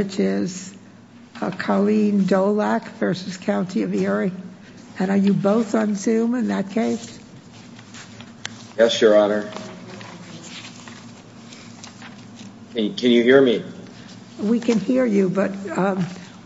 and are you both on zoom in that case yes your honor can you hear me we can hear you but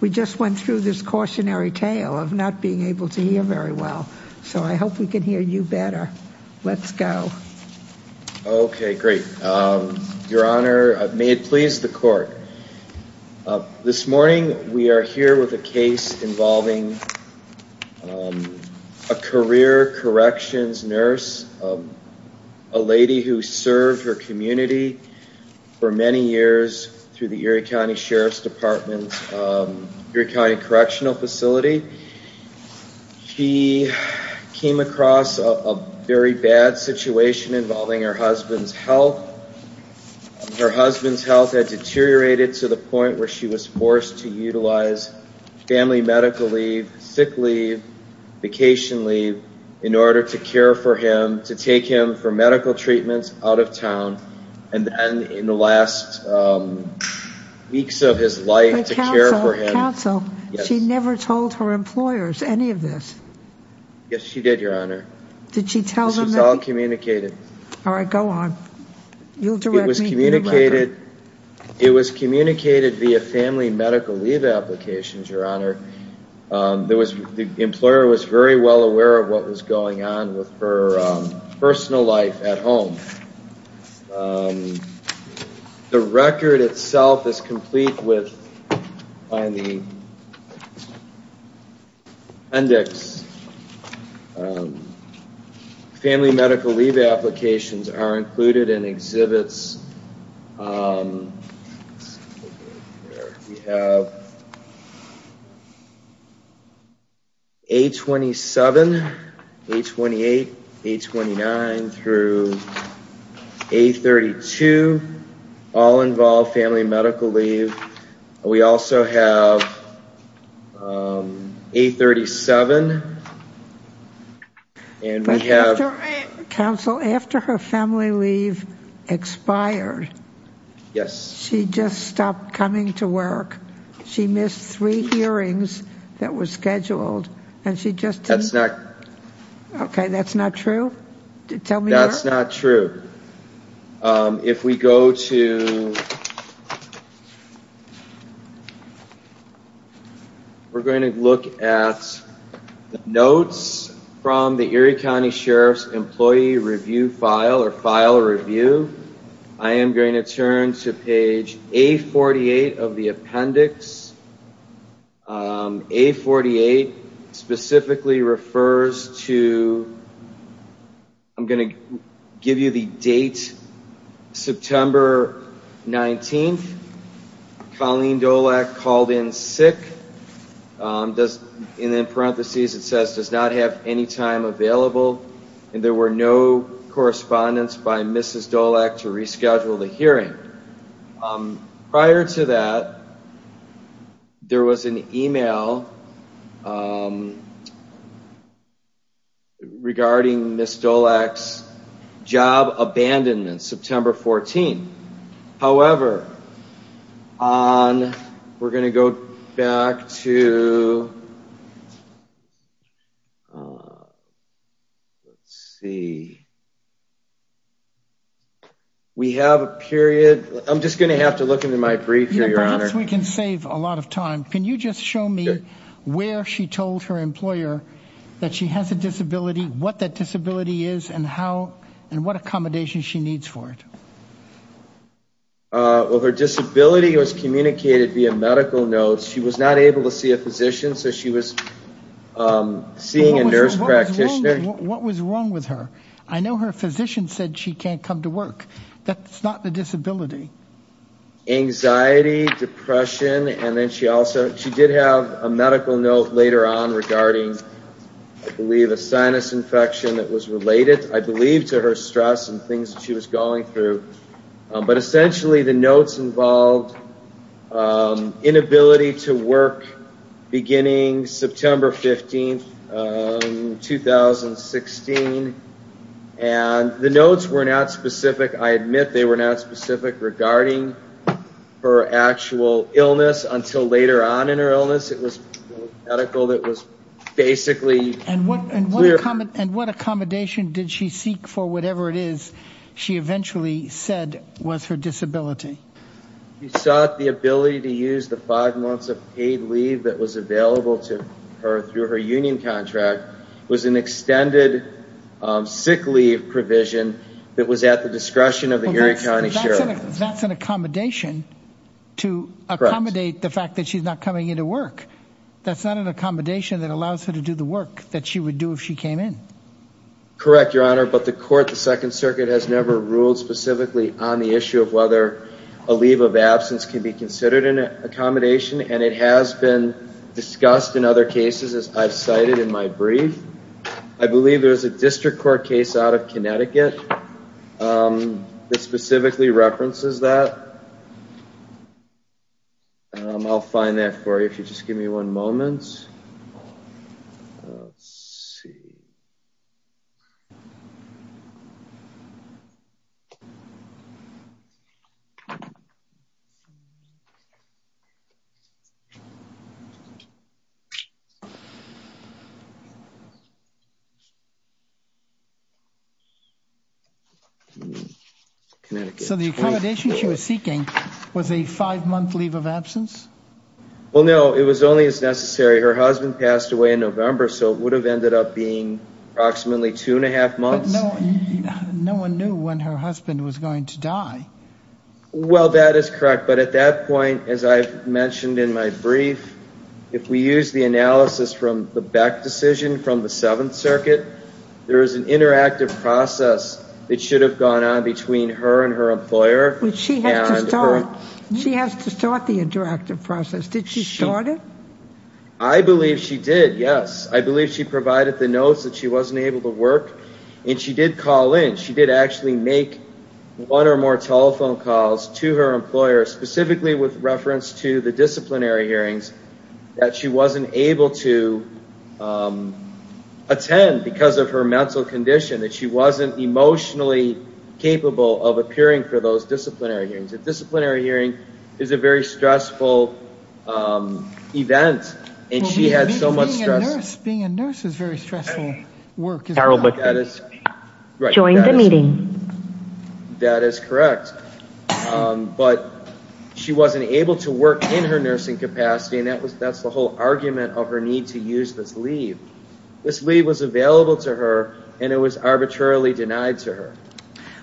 we just went through this cautionary tale of not being able to hear very well so I hope we can hear you better let's go okay great your honor may it please the court this morning we are here with a case involving a career corrections nurse a lady who served her community for many years through the Erie County Sheriff's Department Erie County Correctional Facility she came across a very bad situation involving her husband's health her husband's health had deteriorated to the point where she was forced to utilize family medical leave sick leave vacation leave in order to care for him to take him for medical treatments out of town and then in the last weeks of his life to care so she never told her employers any of this yes she did your honor did she tell them all communicated all right go on you'll do it was communicated it was communicated via family medical leave applications your honor there was the employer was very well aware of what was going on with her personal life at home the record itself is complete with on the index family medical leave applications are included in exhibits 827 828 829 through 832 all involved family medical leave we also have 837 and we have counsel after her family leave expired yes she just stopped coming to work she missed three hearings that was scheduled and she just that's not okay that's not true tell me that's not true if we go to we're going to look at notes from the Erie County Sheriff's employee review file or file review I am going to turn to page a 48 of the appendix a 48 specifically refers to I'm going to give you the date September 19th Colleen Dolak called in sick does in then parentheses it says does not have any time available and there were no correspondence by mrs. dole act to reschedule the hearing prior to that there was an email regarding miss dole X job abandonment September 14 however on we're gonna go back to see we have a period I'm just gonna have to look into my brief your honor we can save a lot of time can you just show me where she told her employer that she has a disability what that disability is and how and what medical notes she was not able to see a physician so she was seeing a nurse practitioner what was wrong with her I know her physician said she can't come to work that's not the disability anxiety depression and then she also she did have a medical note later on regarding I believe a sinus infection that was related I believe to her stress and things she was going through but essentially the notes involved inability to work beginning September 15th 2016 and the notes were not specific I admit they were not specific regarding her actual illness until later on in her illness it was medical that was basically and what and we're coming and what accommodation did she seek for whatever it is she eventually said was her disability the ability to use the five months of paid leave that was available to her through her union contract was an extended sick leave provision that was at the discretion of the county sheriff that's an accommodation to accommodate the fact that she's not coming into work that's not an accommodation that allows her to do the work that she would do if she came in correct your honor but the court the Second Circuit has never ruled specifically on the issue of whether a leave of absence can be considered an accommodation and it has been discussed in other cases as I've cited in my brief I believe there's a district court case out of Connecticut that specifically references that I'll find that for you just give me one moment see so the accommodation she was seeking was a five-month leave of absence well no it was only as necessary her husband passed away in November so it would have ended up being approximately two and a half months no one knew when her husband was going to die well that is correct but at that point as I mentioned in my brief if we use the analysis from the back decision from the Seventh Circuit there is an interactive process it should have gone on between her and her I believe she did yes I believe she provided the notes that she wasn't able to work and she did call in she did actually make one or more telephone calls to her employer specifically with reference to the disciplinary hearings that she wasn't able to attend because of her mental condition that she wasn't emotionally capable of appearing for those disciplinary hearings a and she had so much stress being a nurse is very stressful work that is right during the meeting that is correct but she wasn't able to work in her nursing capacity and that was that's the whole argument of her need to use this leave this leave was available to her and it was arbitrarily denied to her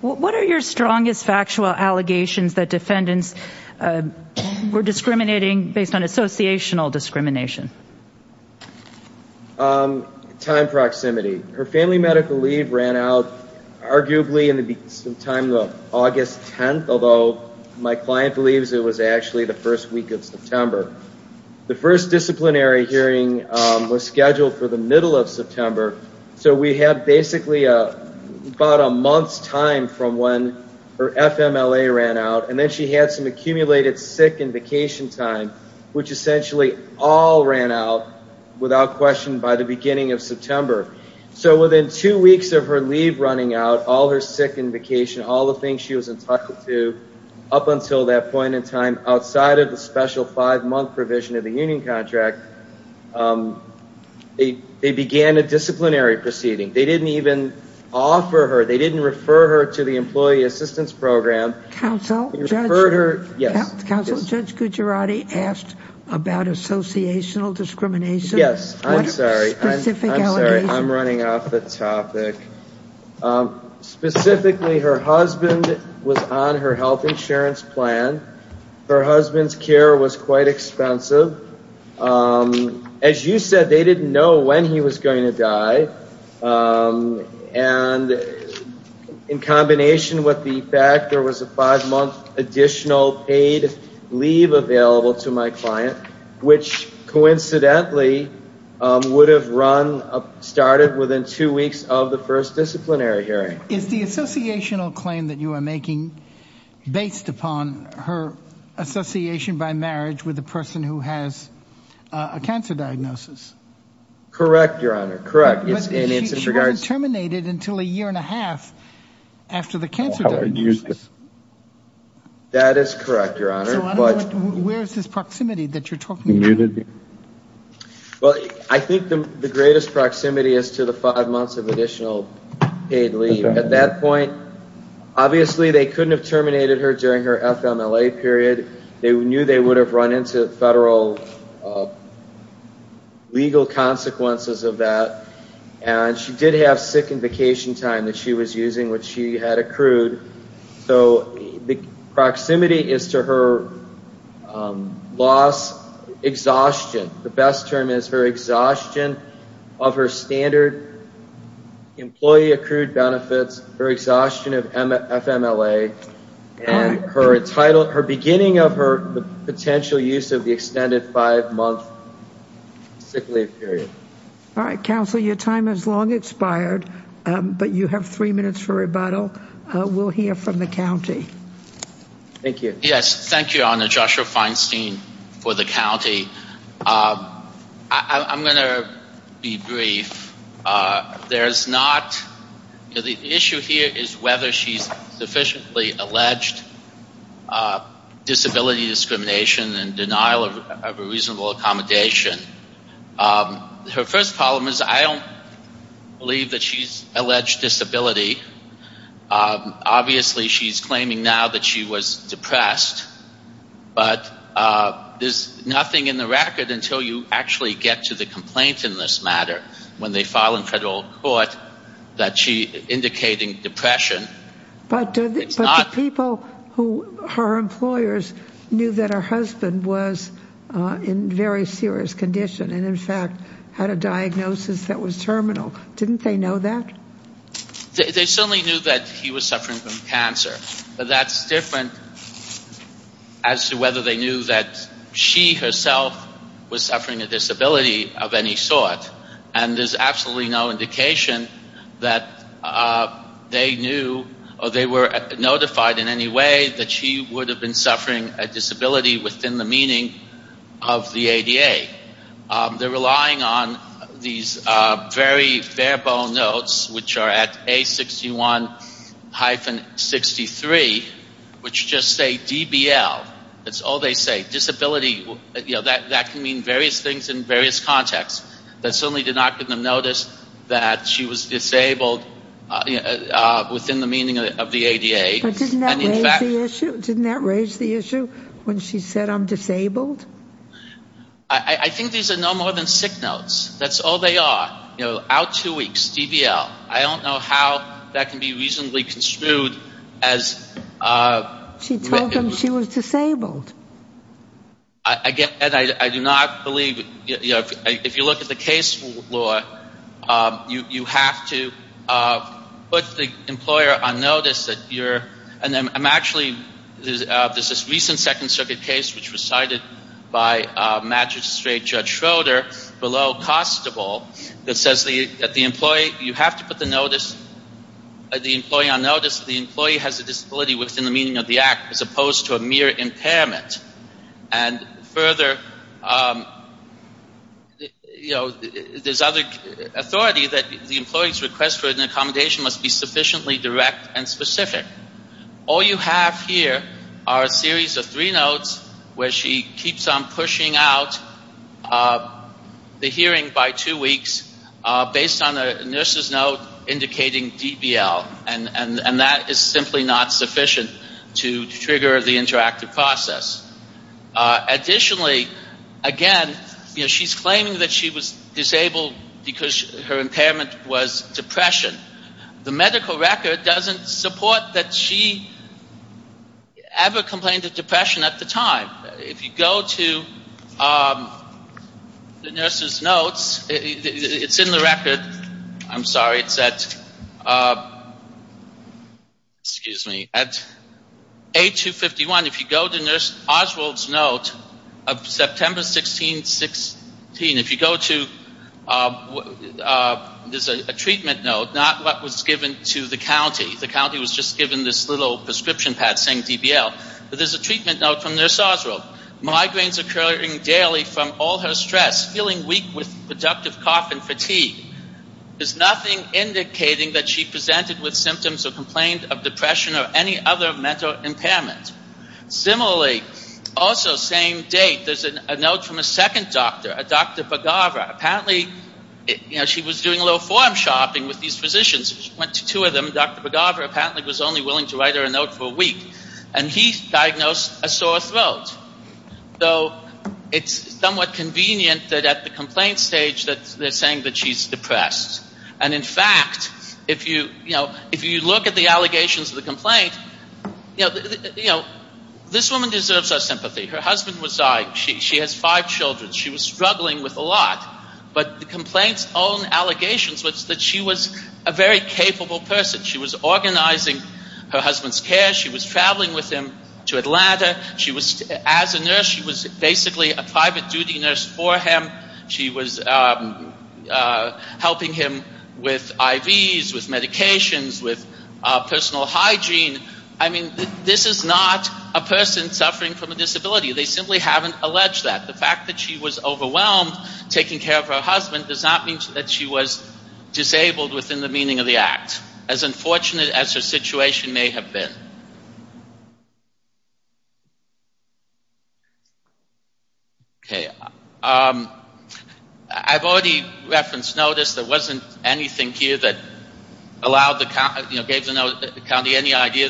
what are your strongest factual allegations that defendants were discriminating based on associational discrimination time proximity her family medical leave ran out arguably in the time of August 10th although my client believes it was actually the first week of September the first disciplinary hearing was scheduled for the middle of September so we have basically a about a month's time from when her FMLA ran out and then she had some accumulated sick and vacation time which essentially all ran out without question by the beginning of September so within two weeks of her leave running out all her sick and vacation all the things she was entitled to up until that point in time outside of the special five-month provision of the union contract they began a disciplinary proceeding they didn't even offer her they didn't refer her to the employee about associational discrimination yes I'm sorry I'm running off the topic specifically her husband was on her health insurance plan her husband's care was quite expensive as you said they didn't know when he was going to die and in combination with the fact there was a five-month additional paid leave available to my client which coincidentally would have run up started within two weeks of the first disciplinary hearing is the associational claim that you are making based upon her association by marriage with the person who has a cancer diagnosis correct your honor correct yes in regards terminated until a year and a half after the cancer that is correct your honor but where is this proximity that you're talking muted well I think the greatest proximity is to the five months of additional paid leave at that point obviously they couldn't have terminated her during her FMLA period they knew they would have run into federal legal consequences of that and she did have sick and vacation time that she was using which she had accrued so the proximity is to her loss exhaustion the best term is her exhaustion of her standard employee accrued benefits her exhaustion of FMLA her title her beginning of her potential use of the extended five-month sick leave period all right counsel your time has long expired but you have three minutes for the county thank you yes thank you on the Joshua Feinstein for the county I'm gonna be brief there's not the issue here is whether she's sufficiently alleged disability discrimination and denial of a reasonable accommodation her first problem is I don't believe that she's alleged disability obviously she's claiming now that she was depressed but there's nothing in the record until you actually get to the complaint in this matter when they file in federal court that she indicating depression but people who her employers knew that her condition and in fact had a diagnosis that was terminal didn't they know that they certainly knew that he was suffering from cancer but that's different as to whether they knew that she herself was suffering a disability of any sort and there's absolutely no indication that they knew or they were notified in any way that she would have been suffering a disability within the ADA they're relying on these very bare bone notes which are at a 61-63 which just say DBL that's all they say disability you know that that can mean various things in various contexts that certainly did not give them notice that she was disabled within the meaning of the ADA didn't that raise the issue when she said I'm disabled I think these are no more than sick notes that's all they are you know out two weeks DBL I don't know how that can be reasonably construed as she told him she was disabled again and I do not believe if you look at the case law you you have to put the employer on notice that you're disabled and I'm actually there's this recent second circuit case which was cited by magistrate judge Schroeder below constable that says that the employee you have to put the notice the employee on notice the employee has a disability within the meaning of the act as opposed to a mere impairment and further you know there's other authority that the employee's request for an accommodation must be sufficiently direct and specific all you have here are a series of three notes where she keeps on pushing out the hearing by two weeks based on a nurse's note indicating DBL and and and that is simply not sufficient to trigger the interactive process additionally again she's claiming that she was disabled because her impairment was depression the medical record doesn't support that she ever complained of depression at the time if you go to the nurses notes it's in the record I'm sorry it's at excuse me at 8251 if you go to nurse Oswald's note of September 1616 if you go to there's a treatment note not what was given to the county the county was just given this little prescription pad saying DBL there's a treatment note from nurse Oswald migraines occurring daily from all her stress feeling weak with productive cough and fatigue there's nothing indicating that she presented with symptoms or complained of depression or any other mental impairment similarly also same date there's a note from a second doctor a doctor Pagavra apparently you know she was doing a little form shopping with these physicians went to two of them Dr. Pagavra apparently was only willing to write her a note for a week and he diagnosed a sore throat though it's somewhat convenient that at the complaint stage that they're saying that she's depressed and in fact if you you know if you look at the allegations of the complaint you know this woman deserves our sympathy her husband was dying she has five children she was struggling with a lot but the complaints own allegations was that she was a very capable person she was organizing her husband's care she was traveling with him to Atlanta she was as a nurse she was basically a private duty nurse for him she was helping him with her hygiene I mean this is not a person suffering from a disability they simply haven't alleged that the fact that she was overwhelmed taking care of her husband does not mean that she was disabled within the meaning of the act as unfortunate as her situation may have been okay I've already referenced notice there wasn't anything here that allowed the county any idea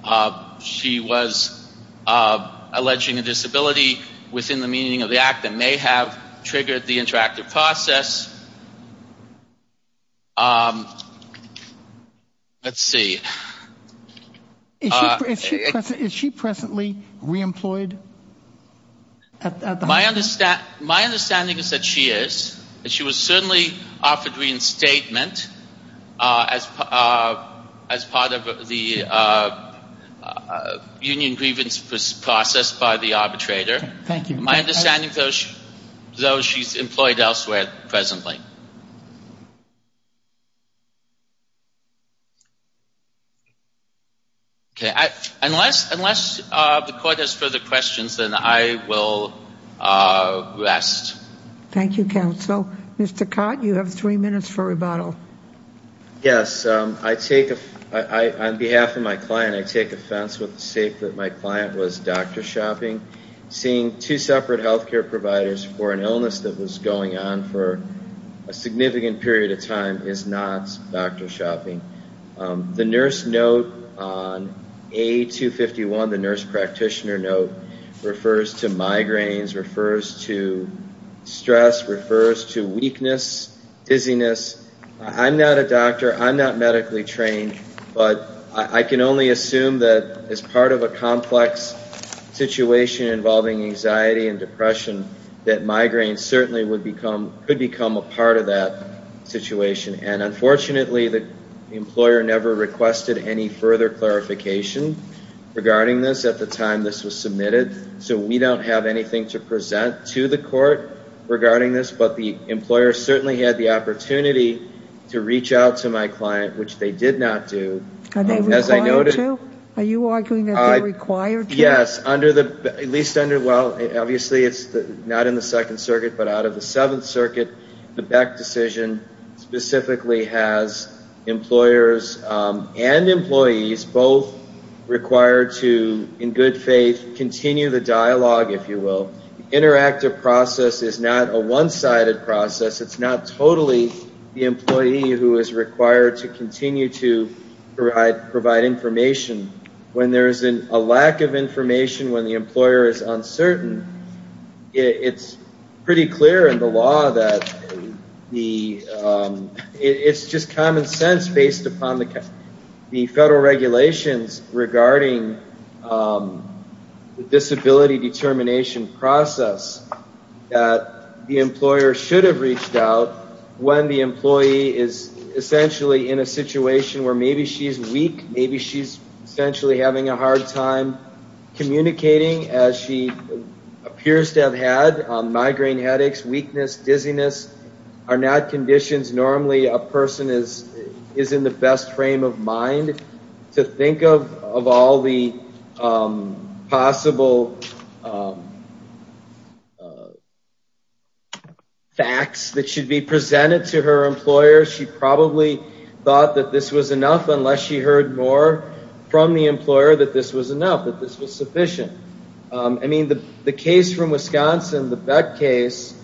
that she was alleging a disability within the meaning of the act that may have triggered the interactive process let's see is she presently reemployed at the my understand my understanding is that she is she was certainly offered reinstatement as as part of the union grievance process by the arbitrator thank you my understanding though she's employed elsewhere presently okay I unless unless the court has further questions and I will rest thank you counsel mr. Codd you have three minutes for rebuttal yes I take a I on behalf of my client I take offense with the state that my client was dr. shopping seeing two separate health care providers for an illness that was going on for a nurse practitioner note refers to migraines refers to stress refers to weakness dizziness I'm not a doctor I'm not medically trained but I can only assume that as part of a complex situation involving anxiety and depression that migraine certainly would become could become a part of that situation and unfortunately the employer never requested any further clarification regarding this at the time this was submitted so we don't have anything to present to the court regarding this but the employer certainly had the opportunity to reach out to my client which they did not do and as I noted are you arguing that I required yes under the least under well obviously it's not in the Second Circuit but out of the Seventh Circuit the Beck decision specifically has employers and employees both required to in good faith continue the dialogue if you will interactive process is not a one-sided process it's not totally the employee who is required to continue to provide provide information when there isn't a lack of information when the employer is it's just common sense based upon the federal regulations regarding the disability determination process that the employer should have reached out when the employee is essentially in a situation where maybe she's weak maybe she's essentially having a hard time communicating as she appears to have had migraine headaches weakness dizziness are not conditions normally a person is is in the best frame of mind to think of of all the possible facts that should be presented to her employer she probably thought that this was enough unless she heard more from the employer that this was enough that this was sufficient I mean the the case from Wisconsin the bet case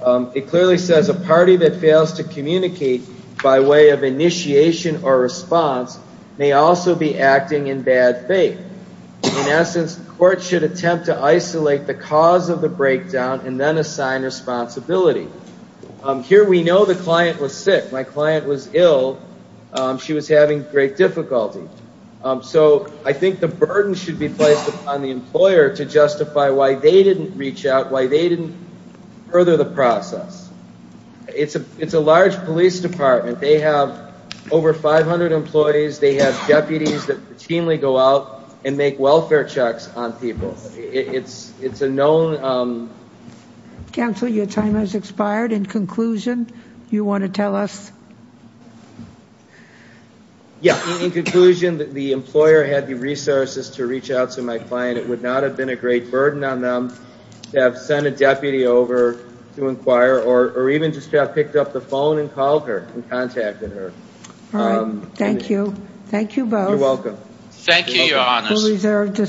it clearly says a party that fails to communicate by way of initiation or response may also be acting in bad faith in essence court should attempt to isolate the cause of the breakdown and then assign responsibility here we know the client was sick my client was ill she was having great difficulty so I think the why they didn't reach out why they didn't further the process it's a it's a large police department they have over 500 employees they have deputies that routinely go out and make welfare checks on people it's it's a known counsel your time has expired in conclusion you want to tell us yeah in conclusion that the employer had the resources to reach out to my client it would not have been a great burden on them to have sent a deputy over to inquire or even just have picked up the phone and called her and contacted her thank you thank you both you're welcome thank you your honor